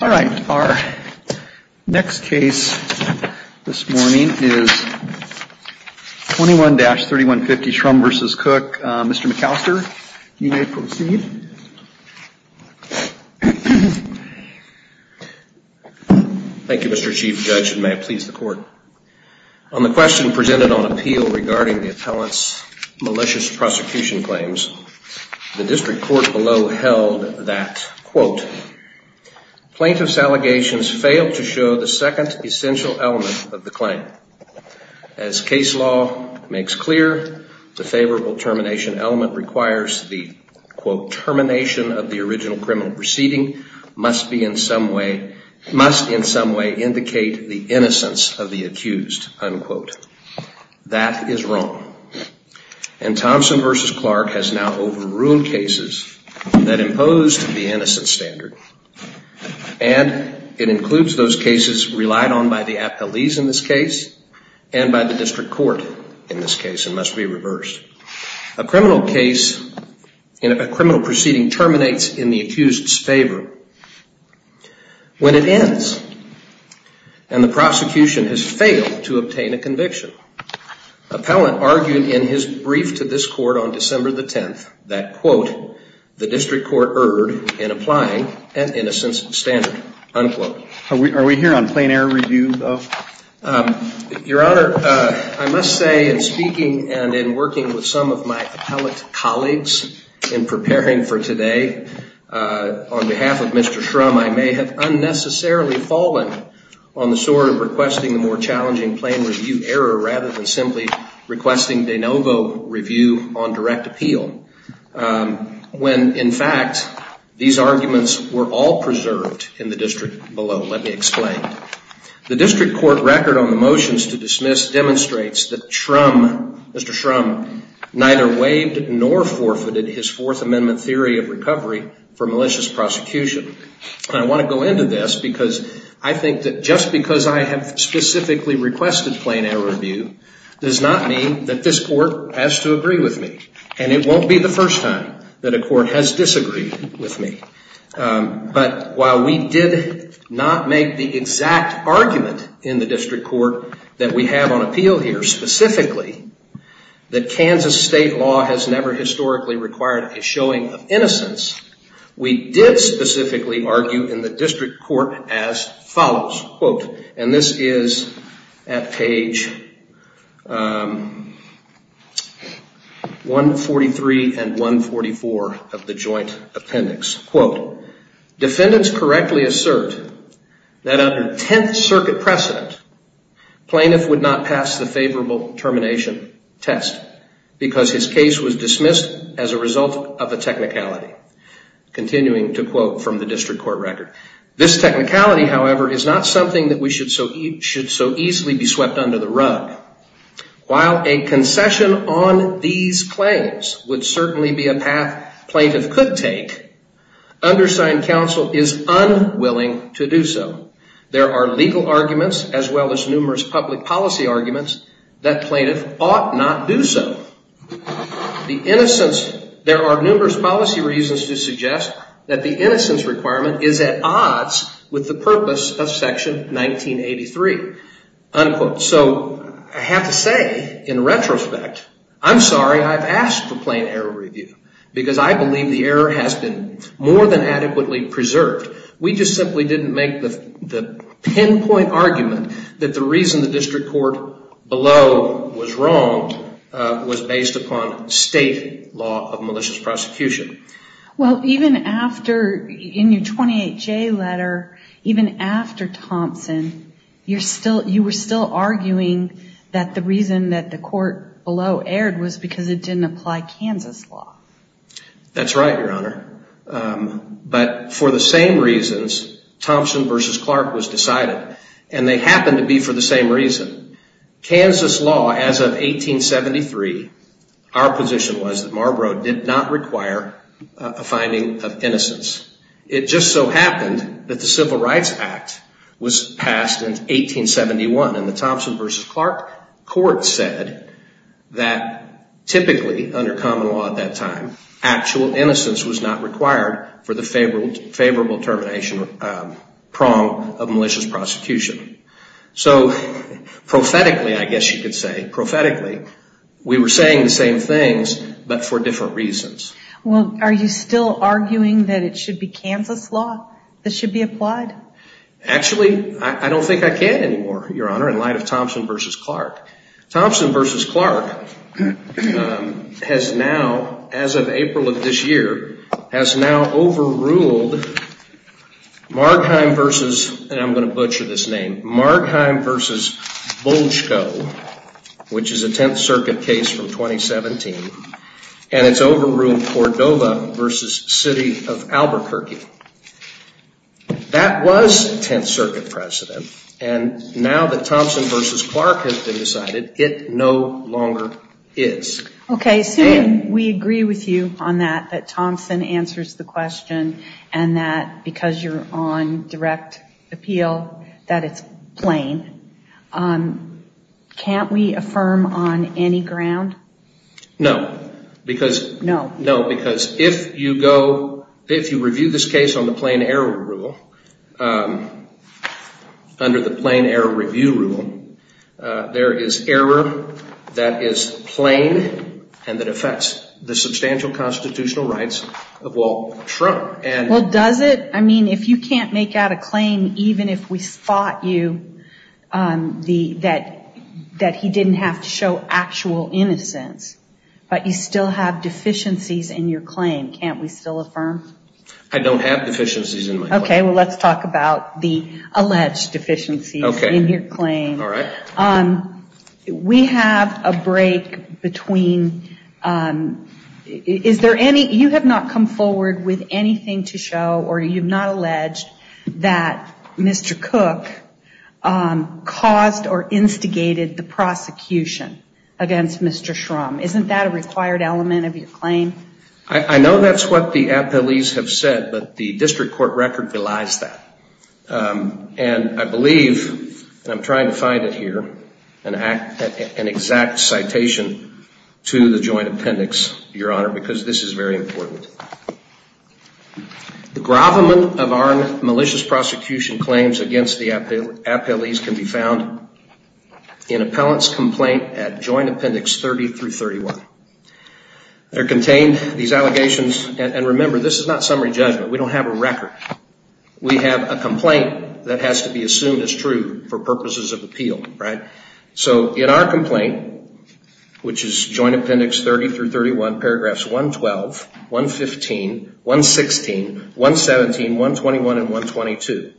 All right, our next case this morning is 21-3150, Shrum v. Cooke. Mr. McAllister, you may proceed. Thank you, Mr. Chief Judge, and may it please the Court. On the question presented on appeal regarding the appellant's malicious prosecution claims, the district court below held that quote, plaintiff's allegations failed to show the second essential element of the claim. As case law makes clear, the favorable termination element requires the quote, termination of the original criminal proceeding must be in some way, must in some way indicate the innocence of the accused, unquote. That is wrong. And Thompson v. Clark has now overruled cases that imposed the innocence standard, and it includes those cases relied on by the appellees in this case and by the district court in this case. It must be reversed. A criminal case, a criminal proceeding terminates in the accused's favor when it ends, and the prosecution has failed to obtain a conviction. Appellant argued in his brief to this court on December the 10th that quote, the district court erred in applying an innocence standard, unquote. Are we here on plain error review, though? Your Honor, I must say in speaking and in working with some of my appellate colleagues in preparing for today, on behalf of Mr. Shrum, I may have unnecessarily fallen on the sword of requesting a more challenging plain review error rather than simply requesting de novo review on direct appeal when, in fact, these arguments were all preserved in the district below. Let me explain. The district court record on the motions to dismiss demonstrates that Shrum, Mr. Shrum, neither waived nor forfeited his Fourth Amendment theory of recovery for malicious prosecution. And I want to go into this because I think that just because I have specifically requested plain error review does not mean that this court has to agree with me. And it won't be the first time that a court has disagreed with me. But while we did not make the exact argument in the district court that we have on appeal here specifically that Kansas state law has never historically required a showing of innocence, we did specifically argue in the district court as follows, quote, and this is at page 143 and 144 of the joint appendix, quote, defendants correctly assert that under Tenth Circuit precedent, plaintiff would not pass the favorable termination test because his continuing to quote from the district court record. This technicality, however, is not something that we should so easily be swept under the rug. While a concession on these claims would certainly be a path plaintiff could take, undersigned counsel is unwilling to do so. There are legal arguments as well as numerous public policy arguments that plaintiff ought not do so. There are numerous policy reasons to suggest that the innocence requirement is at odds with the purpose of section 1983, unquote. So I have to say, in retrospect, I'm sorry I've asked for plain error review because I believe the error has been more than adequately preserved. We just simply didn't make the pinpoint argument that the reason the district court below was wronged was based upon state law of malicious prosecution. Well even after, in your 28J letter, even after Thompson, you were still arguing that the reason that the court below erred was because it didn't apply Kansas law. That's right, Your Honor. But for the same reasons, Thompson v. Clark was decided, and they happened to be for the same reason. Kansas law as of 1873, our position was that Marlborough did not require a finding of innocence. It just so happened that the Civil Rights Act was passed in 1871, and the Thompson v. Clark court said that typically, under common law at that time, actual innocence was not required for the favorable termination prong of malicious prosecution. So, prophetically, I guess you could say, prophetically, we were saying the same things but for different reasons. Well, are you still arguing that it should be Kansas law that should be applied? Actually, I don't think I can anymore, Your Honor, in light of Thompson v. Clark. Thompson v. Clark has now, as of April of this year, has now ruled, and I'm going to butcher this name, Margheim v. Bolchko, which is a Tenth Circuit case from 2017, and it's overruled Cordova v. City of Albuquerque. That was Tenth Circuit precedent, and now that Thompson v. Clark has been decided, it no longer is. Okay, so we agree with you on that, that Thompson answers the question, and that because you're on direct appeal, that it's plain. Can't we affirm on any ground? No. No. No, because if you go, if you review this case on the plain error rule, under the plain error review rule, there is error that is plain and that affects the substantial constitutional rights of Walt Trump. Well, does it? I mean, if you can't make out a claim, even if we spot you that he didn't have to show actual innocence, but you still have deficiencies in your claim, can't we still affirm? I don't have deficiencies in my claim. Okay, well, let's talk about the alleged deficiencies in your claim. Okay. All right. We have a break between, is there any, you have not come forward with anything to show, or you've not alleged that Mr. Cook caused or instigated the prosecution against Mr. Shrum. Isn't that a required element of your claim? I know that's what the appellees have said, but the district court record belies that, and I believe, and I'm trying to find it here, an exact citation to the joint appendix, Your Honor, because this is very important. The gravamen of our malicious prosecution claims against the appellees can be found in appellant's complaint at joint appendix 30 through 31. They're contained, these allegations, and remember, this is not summary judgment. We don't have a record. We have a complaint that has to be assumed as true for purposes of appeal, right? So, in our complaint, which is joint appendix 30 through 31, paragraphs 112, 115, 116, 117, 121, and 122,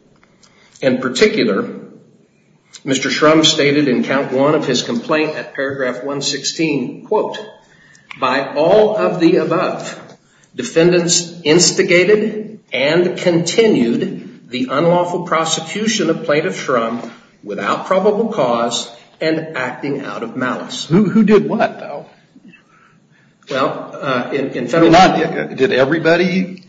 in particular, Mr. Shrum stated in count one of his complaint at paragraph 116, quote, by all of the above, defendants instigated and continued the unlawful prosecution of plaintiff Shrum without probable cause and acting out of malice. Who did what, though? Well, in federal law... Did everybody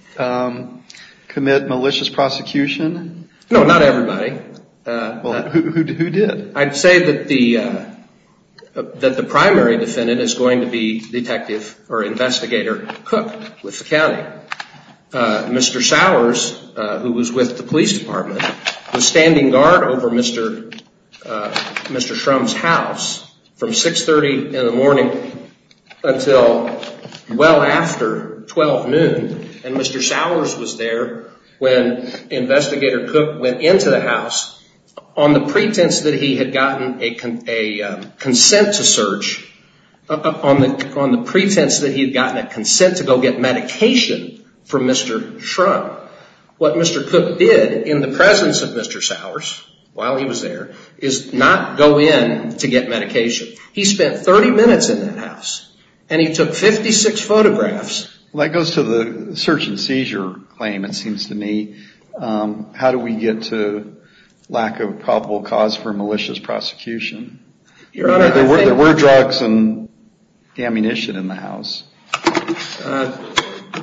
commit malicious prosecution? No, not everybody. Well, who did? I'd say that the primary defendant is going to be Detective or Investigator Cook with the county. Mr. Sowers, who was with the police department, was standing guard over Mr. Shrum's house from 6.30 in the morning until well after 12 noon, and Mr. Sowers was there when Investigator Cook went into the house on the pretense that he had gotten a consent to search, on the pretense that he had gotten a consent to go get medication from Mr. Shrum. What Mr. Cook did in the presence of Mr. Sowers while he was there is not go in to get medication. He spent 30 minutes in that house, and he took 56 photographs. Well, that goes to the search and seizure claim, it seems to me. How do we get to lack of probable cause for malicious prosecution? There were drugs and ammunition in the house.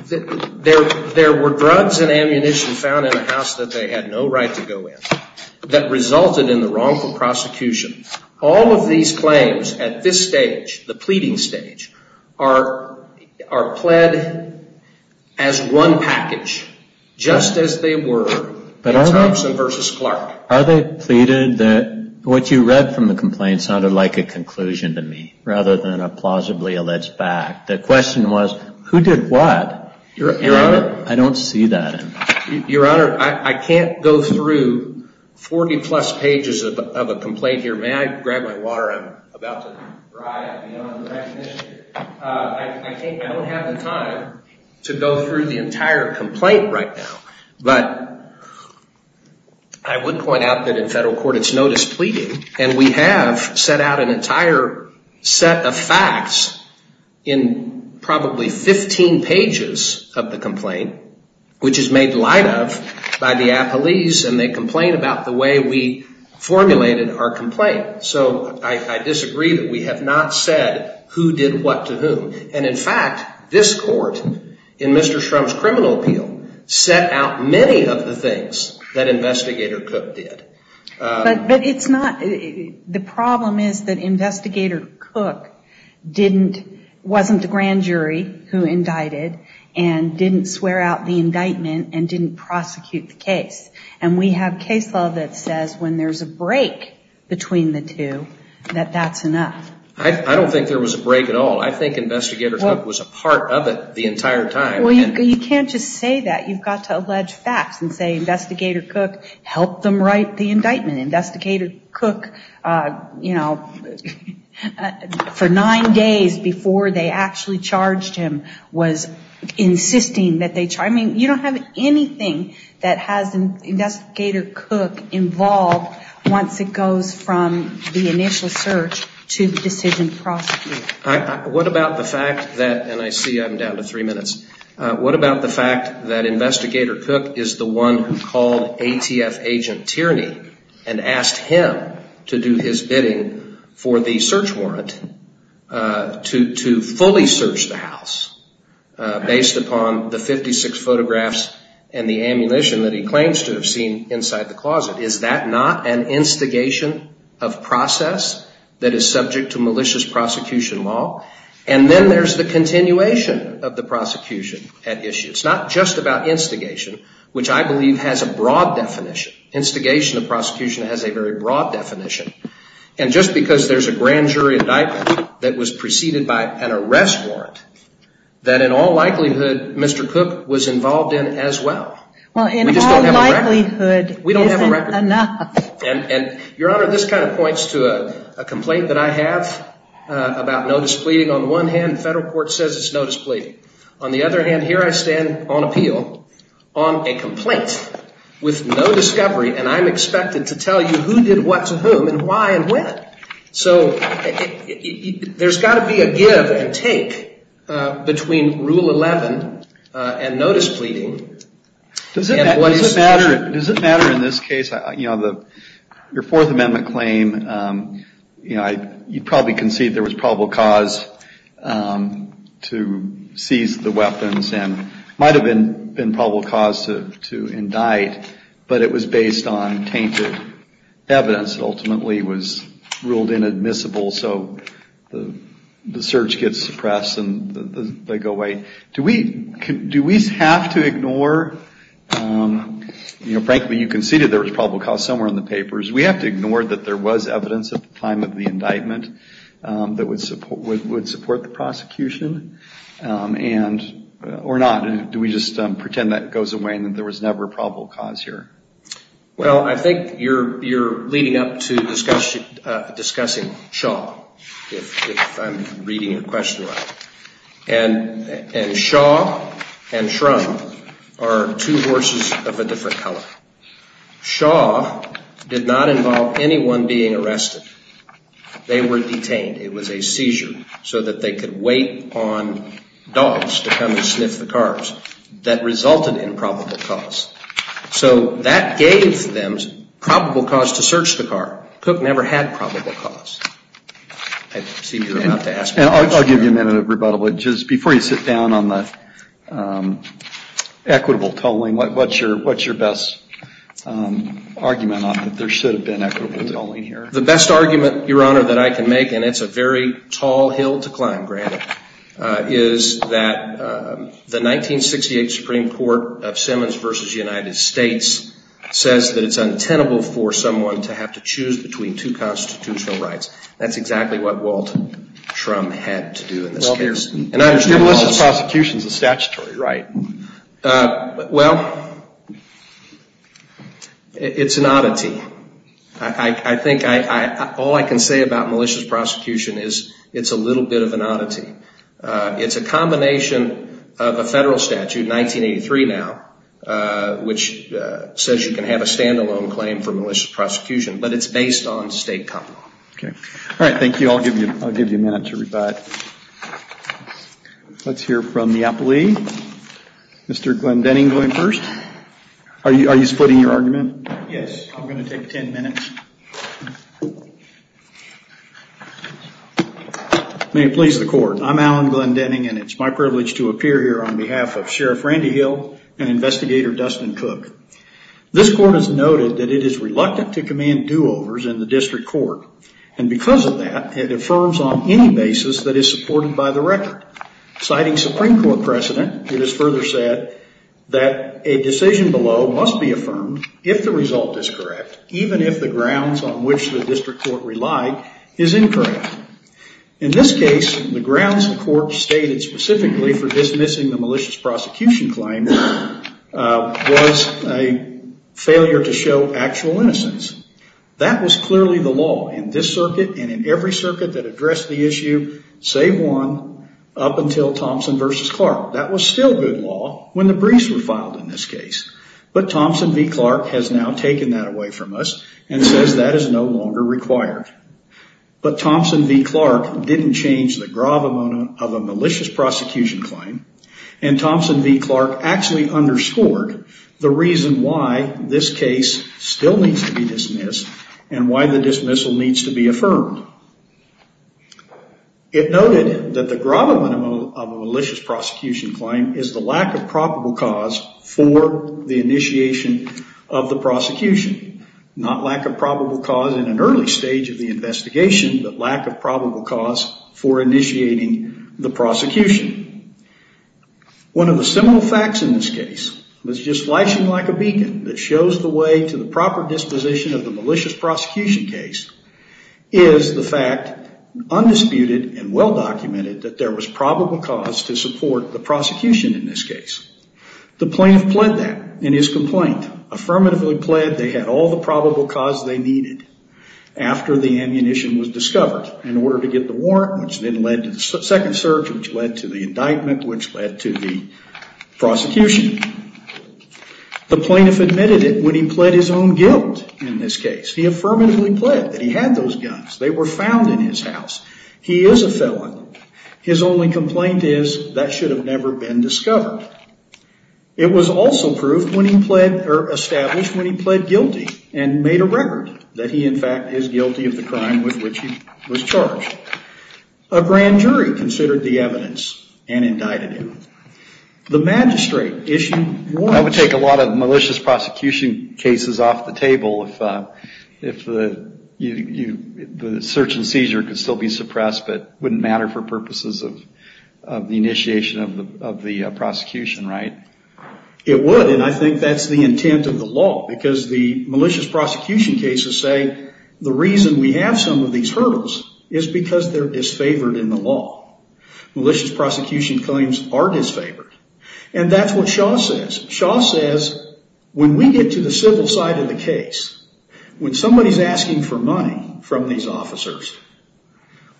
There were drugs and ammunition found in the house that they had no right to go in, that resulted in the wrongful prosecution. All of these claims at this stage, the pleading stage, are pled as one package, just as they were in Thompson v. Clark. Are they pleaded that what you read from the complaint sounded like a conclusion to me, rather than a plausibly alleged fact? The question was, who did what? Your Honor, I can't go through 40 plus pages of a complaint here. May I grab my water? I think I don't have the time to go through the entire complaint right now. I would point out that in federal court it's notice pleading, and we have set out an entire set of facts in probably 15 pages of the complaint, which is made light of by the appellees, and they complain about the way we formulated our complaint. I disagree that we have not said who did what to whom. In fact, this court, in Mr. Shrum's criminal appeal, set out many of the things that Investigator Cook did. The problem is that Investigator Cook wasn't the grand jury who indicted, and didn't swear out the indictment, and didn't prosecute the case. We have case law that says when there's a break between the two, that that's enough. I don't think there was a break at all. I think Investigator Cook was a part of it the entire time. Well, you can't just say that. You've got to allege facts and say Investigator Cook helped them write the indictment. Investigator Cook, you know, for nine days before they actually charged him, was insisting that they charged him. You don't have anything that has Investigator Cook involved once it goes from the initial search to the decision to prosecute. What about the fact that, and I see I'm down to three minutes, what about the fact that Investigator Cook is the one who called ATF agent Tierney and asked him to do his bidding for the search warrant to fully search the house based upon the 56 photographs and the evidence inside the closet. Is that not an instigation of process that is subject to malicious prosecution law? And then there's the continuation of the prosecution at issue. It's not just about instigation, which I believe has a broad definition. Instigation of prosecution has a very broad definition. And just because there's a grand jury indictment that was preceded by an arrest warrant, that in all likelihood, Mr. Cook was involved in as well. We just don't have a record. We don't have a record. Your Honor, this kind of points to a complaint that I have about no displeading. On the one hand, the federal court says it's no displeading. On the other hand, here I stand on appeal on a complaint with no discovery and I'm expected to tell you who did what to whom and why and when. So there's got to be a give and take between Rule 11 and no displeading. Does it matter in this case, your Fourth Amendment claim, you probably concede there was probable cause to seize the weapons and might have been probable cause to indict, but it was based on tainted evidence that ultimately was ruled inadmissible. So the search gets suppressed and they go away. Do we have to ignore, you know, frankly, you conceded there was probable cause somewhere in the papers. We have to ignore that there was evidence at the time of the indictment that would support the prosecution or not? Do we just pretend that goes away and that there was never probable cause here? Well, I think you're leading up to discussing Shaw, if I'm reading your question right. And Shaw and Shrum are two horses of a different color. Shaw did not involve anyone being arrested. They were detained. It was a seizure so that they could wait on dogs to come and sniff the cars. That resulted in probable cause. So that gave them probable cause to search the car. Cook never had probable cause. I'll give you a minute of rebuttal, but just before you sit down on the equitable tolling, what's your best argument on it? There should have been equitable tolling here. The best argument, Your Honor, that I can make, and it's a very tall hill to climb, granted, is that the 1968 Supreme Court of Simmons v. United States says that it's untenable for someone to have to choose between two constitutional rights. That's exactly what Walt Shrum had to do in this case. Well, your malicious prosecution is a statutory right. Well, it's an oddity. I think all I can say about malicious prosecution is it's a little bit of an oddity. It's a combination of a federal statute, 1983 now, which says you can have a stand-alone claim for malicious prosecution, but it's based on state common law. All right. Thank you. I'll give you a minute to rebut. Let's hear from the appellee. Mr. Glenn Denning going first. Are you splitting your argument? Yes. I'm going to take 10 minutes. May it please the Court. I'm Alan Glenn Denning, and it's my privilege to appear here on behalf of Sheriff Randy Hill and Investigator Dustin Cook. This court has noted that it is reluctant to command do-overs in the district court, and because of that, it affirms on any basis that it's supported by the record. Citing Supreme Court precedent, it is further said that a decision below must be affirmed if the result is correct, even if the grounds on which the district court relied is incorrect. In this case, the grounds the court stated specifically for dismissing the malicious prosecution claim was a failure to show actual innocence. That was clearly the law in this circuit and in every circuit that addressed the issue, save one, up until Thompson v. Clark. That was still good law when the briefs were filed in this case, but Thompson v. Clark has now taken that away from us and says that is no longer required. But Thompson v. Clark didn't change the gravamono of a malicious prosecution claim, and Thompson v. Clark actually underscored the reason why this case still needs to be dismissed and why the dismissal needs to be affirmed. It noted that the gravamono of a malicious prosecution claim is the lack of probable cause for the initiation of the prosecution, not lack of the investigation, but lack of probable cause for initiating the prosecution. One of the seminal facts in this case was just flashing like a beacon that shows the way to the proper disposition of the malicious prosecution case is the fact, undisputed and well-documented, that there was probable cause to support the prosecution in this case. The plaintiff pled that in his complaint, affirmatively pled they had all the probable cause they needed after the ammunition was discovered in order to get the warrant, which then led to the second search, which led to the indictment, which led to the prosecution. The plaintiff admitted it when he pled his own guilt in this case. He affirmatively pled that he had those guns. They were found in his house. He is a felon. His only complaint is that should have never been discovered. It was also established when he pled guilty and made a record that he, in fact, is guilty of the crime with which he was charged. A grand jury considered the evidence and indicted him. The magistrate issued warrants. That would take a lot of malicious prosecution cases off the table if the search and seizure could still be suppressed, but it wouldn't matter for purposes of the initiation of the prosecution, right? It would, and I think that's the intent of the law, because the malicious prosecution cases say the reason we have some of these hurdles is because they're disfavored in the law. Malicious prosecution claims are disfavored, and that's what Shaw says. Shaw says when we get to the civil side of the case, when somebody's asking for money from these officers,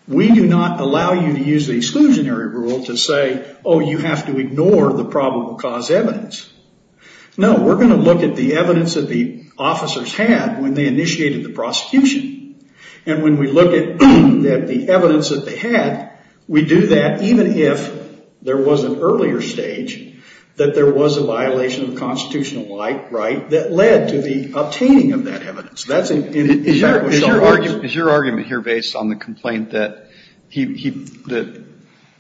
we do not allow you to use the exclusionary rule to say, oh, you have to ignore the probable cause evidence. No, we're going to look at the evidence that the officers had when they initiated the prosecution, and when we look at the evidence that they had, we do that even if there was an earlier stage that there was a violation of constitutional right that led to the obtaining of that evidence. That's, in fact, what Shaw argues. Is your argument here based on the complaint that he, that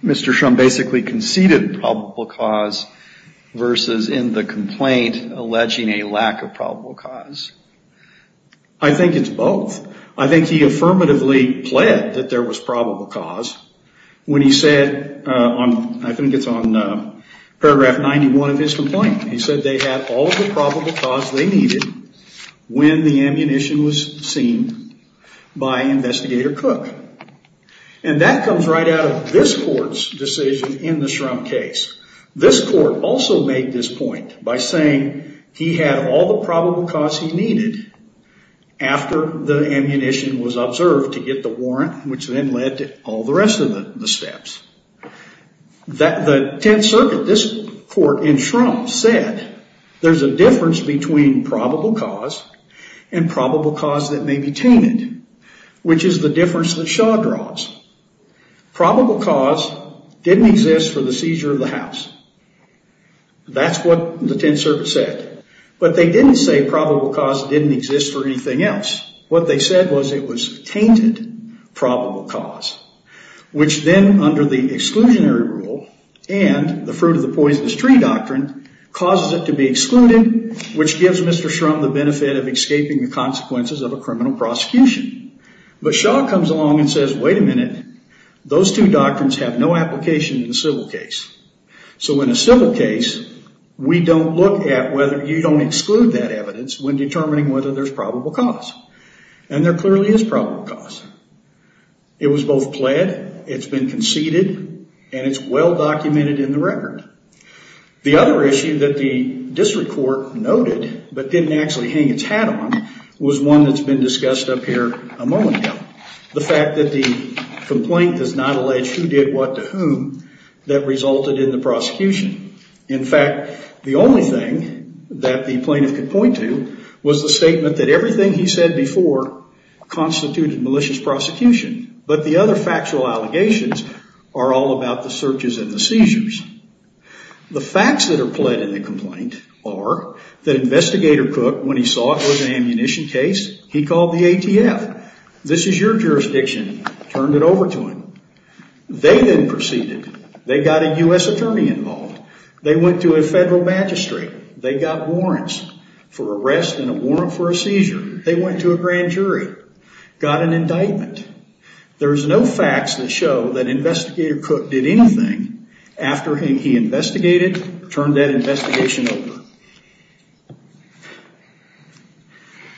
Mr. Shrum basically conceded probable cause versus in the complaint alleging a lack of probable cause? I think it's both. I think he affirmatively pled that there was probable cause when he said on, I think it's on paragraph 91 of his complaint, he said they had all the probable cause they needed when the ammunition was seen by Investigator Cook. And that comes right out of this court's decision in the Shrum case. This court also made this point by saying he had all the probable cause he needed after the ammunition was observed to get the warrant, which then led to all the rest of the steps. The Tenth Circuit, this court in Shrum, said there's a difference between probable cause and probable cause that may be tainted, which is the difference that Shaw draws. Probable cause didn't exist for the seizure of the house. That's what the Tenth Circuit said. But they didn't say probable cause didn't exist for anything else. What they said was it was tainted probable cause, which then under the exclusionary rule and the fruit of the poisonous tree doctrine causes it to be excluded, which gives Mr. Cook the consequences of a criminal prosecution. But Shaw comes along and says, wait a minute. Those two doctrines have no application in a civil case. So in a civil case, we don't look at whether you don't exclude that evidence when determining whether there's probable cause. And there clearly is probable cause. It was both pled, it's been conceded, and it's well documented in the record. The other issue that the district court noted but didn't actually hang its hat on was one that's been discussed up here a moment ago, the fact that the complaint does not allege who did what to whom that resulted in the prosecution. In fact, the only thing that the plaintiff could point to was the statement that everything he said before constituted malicious prosecution. But the other factual allegations are all about the searches and the seizures. The facts that are pled in the complaint are that Investigator Cook, when he saw it was an ammunition case, he called the ATF. This is your jurisdiction. Turned it over to him. They then proceeded. They got a U.S. attorney involved. They went to a federal magistrate. They got warrants for arrest and a warrant for a seizure. They went to a grand jury. Got an indictment. There's no facts that show that Investigator Cook did anything after he investigated, turned that investigation over.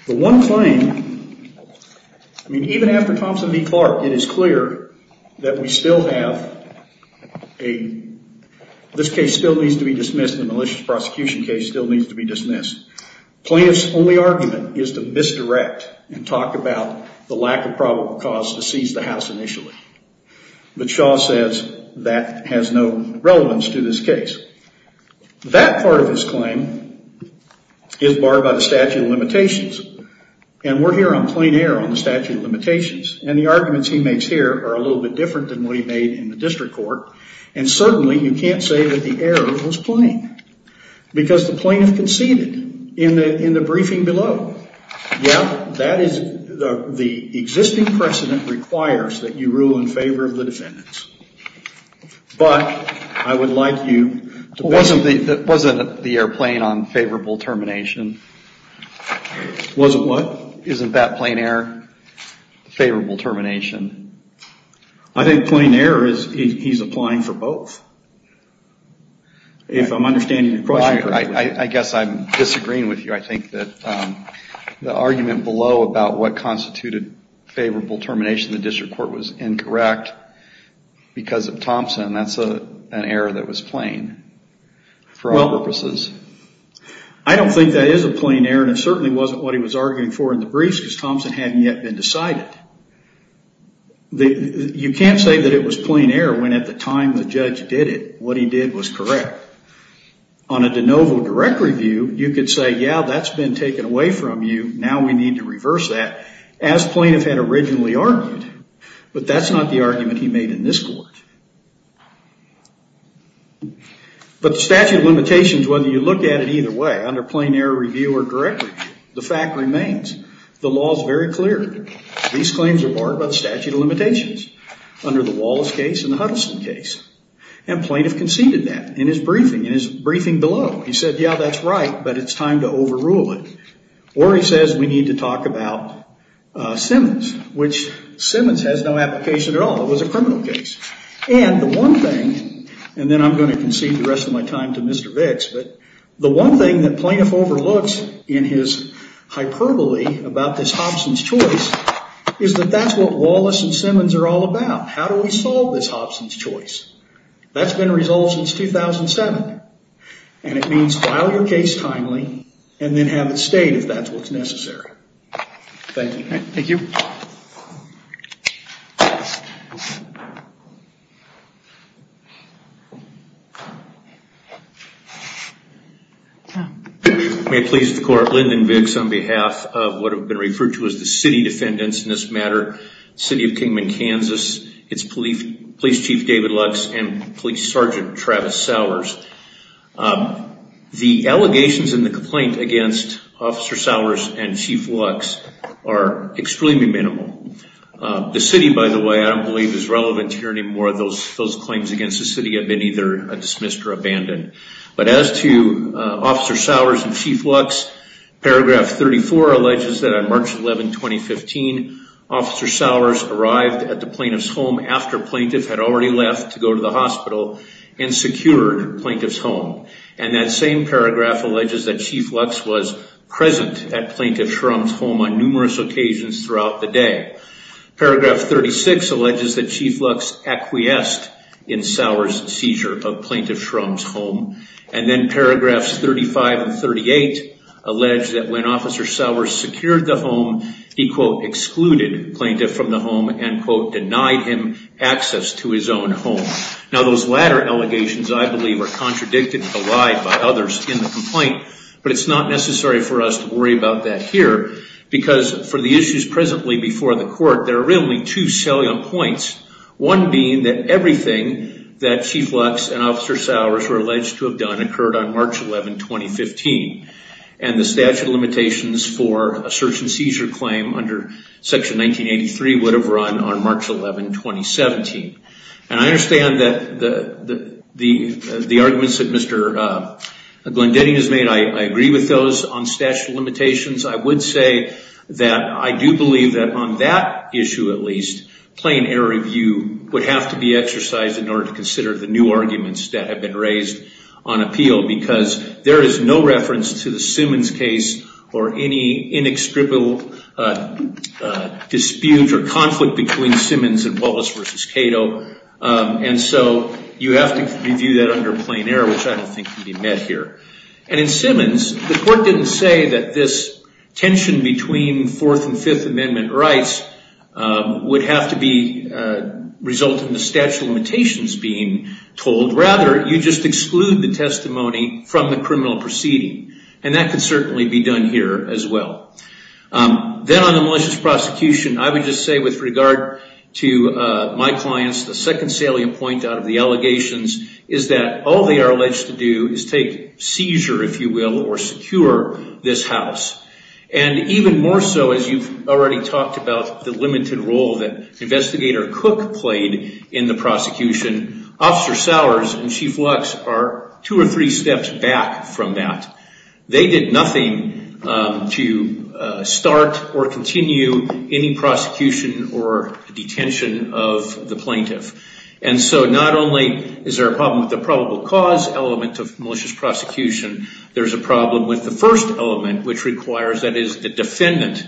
The one claim, even after Thompson v. Clark, it is clear that we still have a, this case still needs to be dismissed. The malicious prosecution case still needs to be dismissed. Plaintiff's only argument is to misdirect and talk about the lack of probable cause to seize the house initially. But Shaw says that has no relevance to this case. That part of his claim is barred by the statute of limitations. And we're here on plain error on the statute of limitations. And the arguments he makes here are a little bit different than what he made in the district court. And certainly you can't say that the error was plain. Because the plaintiff conceded in the briefing below. Yeah, that is the existing precedent with which it requires that you rule in favor of the defendants. But I would like you to wasn't the airplane on favorable termination? Wasn't what? Isn't that plain error? Favorable termination? I think plain error is he's applying for both. If I'm understanding the question correctly. I guess I'm disagreeing with you. I think that the argument below about what constituted favorable termination in the district court was incorrect because of Thompson. That's an error that was plain for all purposes. I don't think that is a plain error. And it certainly wasn't what he was arguing for in the briefs because Thompson hadn't yet been decided. You can't say that it was plain error when at the time the judge did it, what he did was correct. On a de novo direct review, you could say, yeah, that's been taken away from you. Now we need to reverse that as plaintiff had originally argued. But that's not the argument he made in this court. But the statute of limitations, whether you look at it either way, under plain error review or direct review, the fact remains the law is very clear. These claims are barred by the statute of limitations under the Wallace case and the Huddleston case. And plaintiff conceded that in his briefing, in his briefing below, he said, yeah, that's right, but it's time to overrule it. Or he says we need to talk about Simmons, which Simmons has no application at all. It was a criminal case. And the one thing, and then I'm going to concede the rest of my time to Mr. Vicks, but the one thing that plaintiff overlooks in his hyperbole about this Hobson's choice is that that's what Wallace and Simmons are all about. How do we solve this Hobson's choice? That's been resolved since 2007. And it means file your case timely and then have it stayed if that's what's necessary. Thank you. May it please the court, Lyndon Vicks on behalf of what have been referred to as the city defendants in this matter, City of Kingman, Kansas. It's Police Chief David Lux and Police Sergeant Travis Sowers. The allegations in the complaint against Officer Sowers and Chief Lux are extremely minimal. The city, by the way, I don't believe is relevant here anymore. Those claims against the city have been either dismissed or abandoned. But as to Officer Sowers and Chief Lux, paragraph 34 alleges that on March 11, 2015, Officer Sowers seized and secured Plaintiff's home. And that same paragraph alleges that Chief Lux was present at Plaintiff Shrum's home on numerous occasions throughout the day. Paragraph 36 alleges that Chief Lux acquiesced in Sowers' seizure of Plaintiff Shrum's home. And then paragraphs 35 and 38 allege that when Officer Sowers secured the home, he, quote, excluded Plaintiff from the home and, quote, denied him access to his own home. Now those latter allegations, I believe, are contradicted and belied by others in the complaint. But it's not necessary for us to worry about that here. Because for the issues presently before the court, there are really only two salient points. One being that everything that Chief Lux and Officer Sowers were alleged to have done occurred on March 11, 2015. And the statute of limitations for a search and seizure claim under Section 1983 would have run on March 11, 2017. And I understand that the arguments that Mr. Glendening has made, I agree with those on statute of limitations. I would say that I do believe that on that issue at least, plain error review would have to be exercised in order to consider the new arguments that have been raised on appeal. Because there is no reference to the Simmons case or any inextricable dispute or conflict between Simmons and Wallace v. Cato. And so you have to review that under plain error, which I don't think can be met here. And in Simmons, the court didn't say that this tension between Fourth and Fifth Amendment rights would have to result in the statute of limitations being told. Rather, you just exclude the testimony from the criminal proceeding. And that could certainly be done here as well. Then on the malicious prosecution, I would just say with regard to my clients, the second salient point out of the allegations is that all they are alleged to do is take seizure, if you will, or secure this house. And even more so, as you've already talked about the limited role that Investigator Cook played in the prosecution, Officer Sowers and Chief Lux are two or three steps back from that. They did nothing to start or continue any prosecution or detention of the plaintiff. And so not only is there a problem with the probable cause element of malicious prosecution, there's a problem with the first element, which requires that is the defendant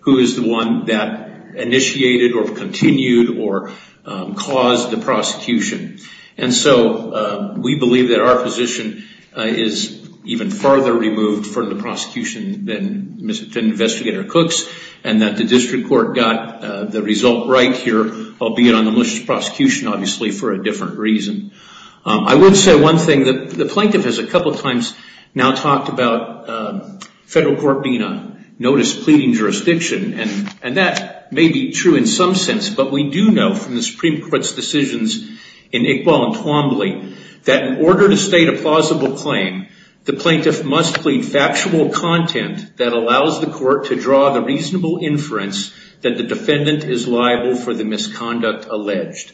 who is the one that initiated or continued or caused the prosecution. And so we believe that our position is even farther removed from the prosecution than Investigator Cook's and that the district court got the result right here, albeit on the malicious prosecution, obviously, for a different reason. I would say one thing. The plaintiff has a couple of times now talked about federal court being a notice-pleading jurisdiction. And that may be true in some sense, but we do know from the Supreme Court's decisions in Wall and Twombly that in order to state a plausible claim, the plaintiff must plead factual content that allows the court to draw the reasonable inference that the defendant is liable for the misconduct alleged.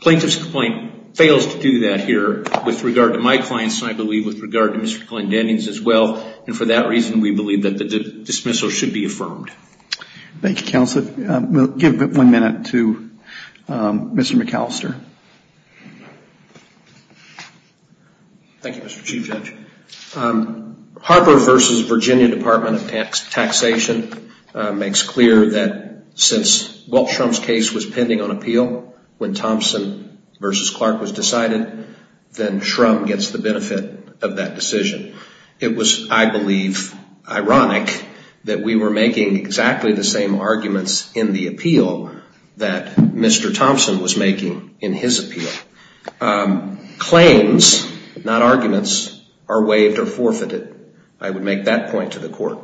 Plaintiff's complaint fails to do that here with regard to my clients and, I believe, with regard to Mr. Glenn Dennings as well. And for that reason, we believe that the dismissal should be affirmed. Thank you, Counselor. We'll give one minute to Mr. McAllister. Thank you, Mr. Chief Judge. Harper v. Virginia Department of Taxation makes clear that since Walt Shrum's case was pending on appeal when Thompson v. Clark was decided, then Shrum gets the benefit of that decision. It was, I believe, ironic that we were making exactly the same arguments in the appeal that Mr. Thompson was making in his appeal. Claims, not arguments, are waived or forfeited. I would make that point to the court.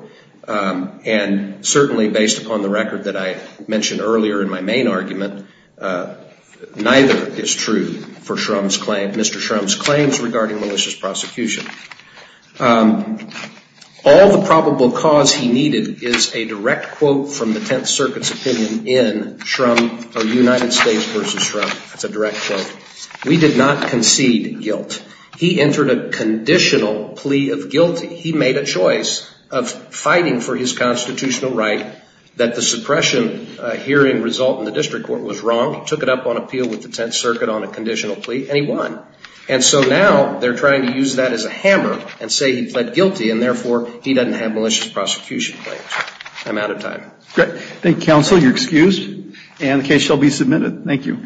And certainly based upon the record that I mentioned earlier in my main argument, neither is true for Mr. Shrum's claims regarding malicious prosecution. All the probable cause he needed is a direct quote from the Tenth Circuit's opinion in Shrum or United States v. Shrum. That's a direct quote. We did not concede guilt. He entered a conditional plea of guilty. He made a choice of fighting for his constitutional right that the suppression hearing result in the district court was wrong. He took it up on appeal with the Tenth Circuit on a conditional plea and he won. And so now they're trying to use that as a hammer and say he pled guilty and therefore he doesn't have malicious prosecution claims. I'm out of time. Great. Thank you, counsel. You're excused and the case shall be submitted. Thank you.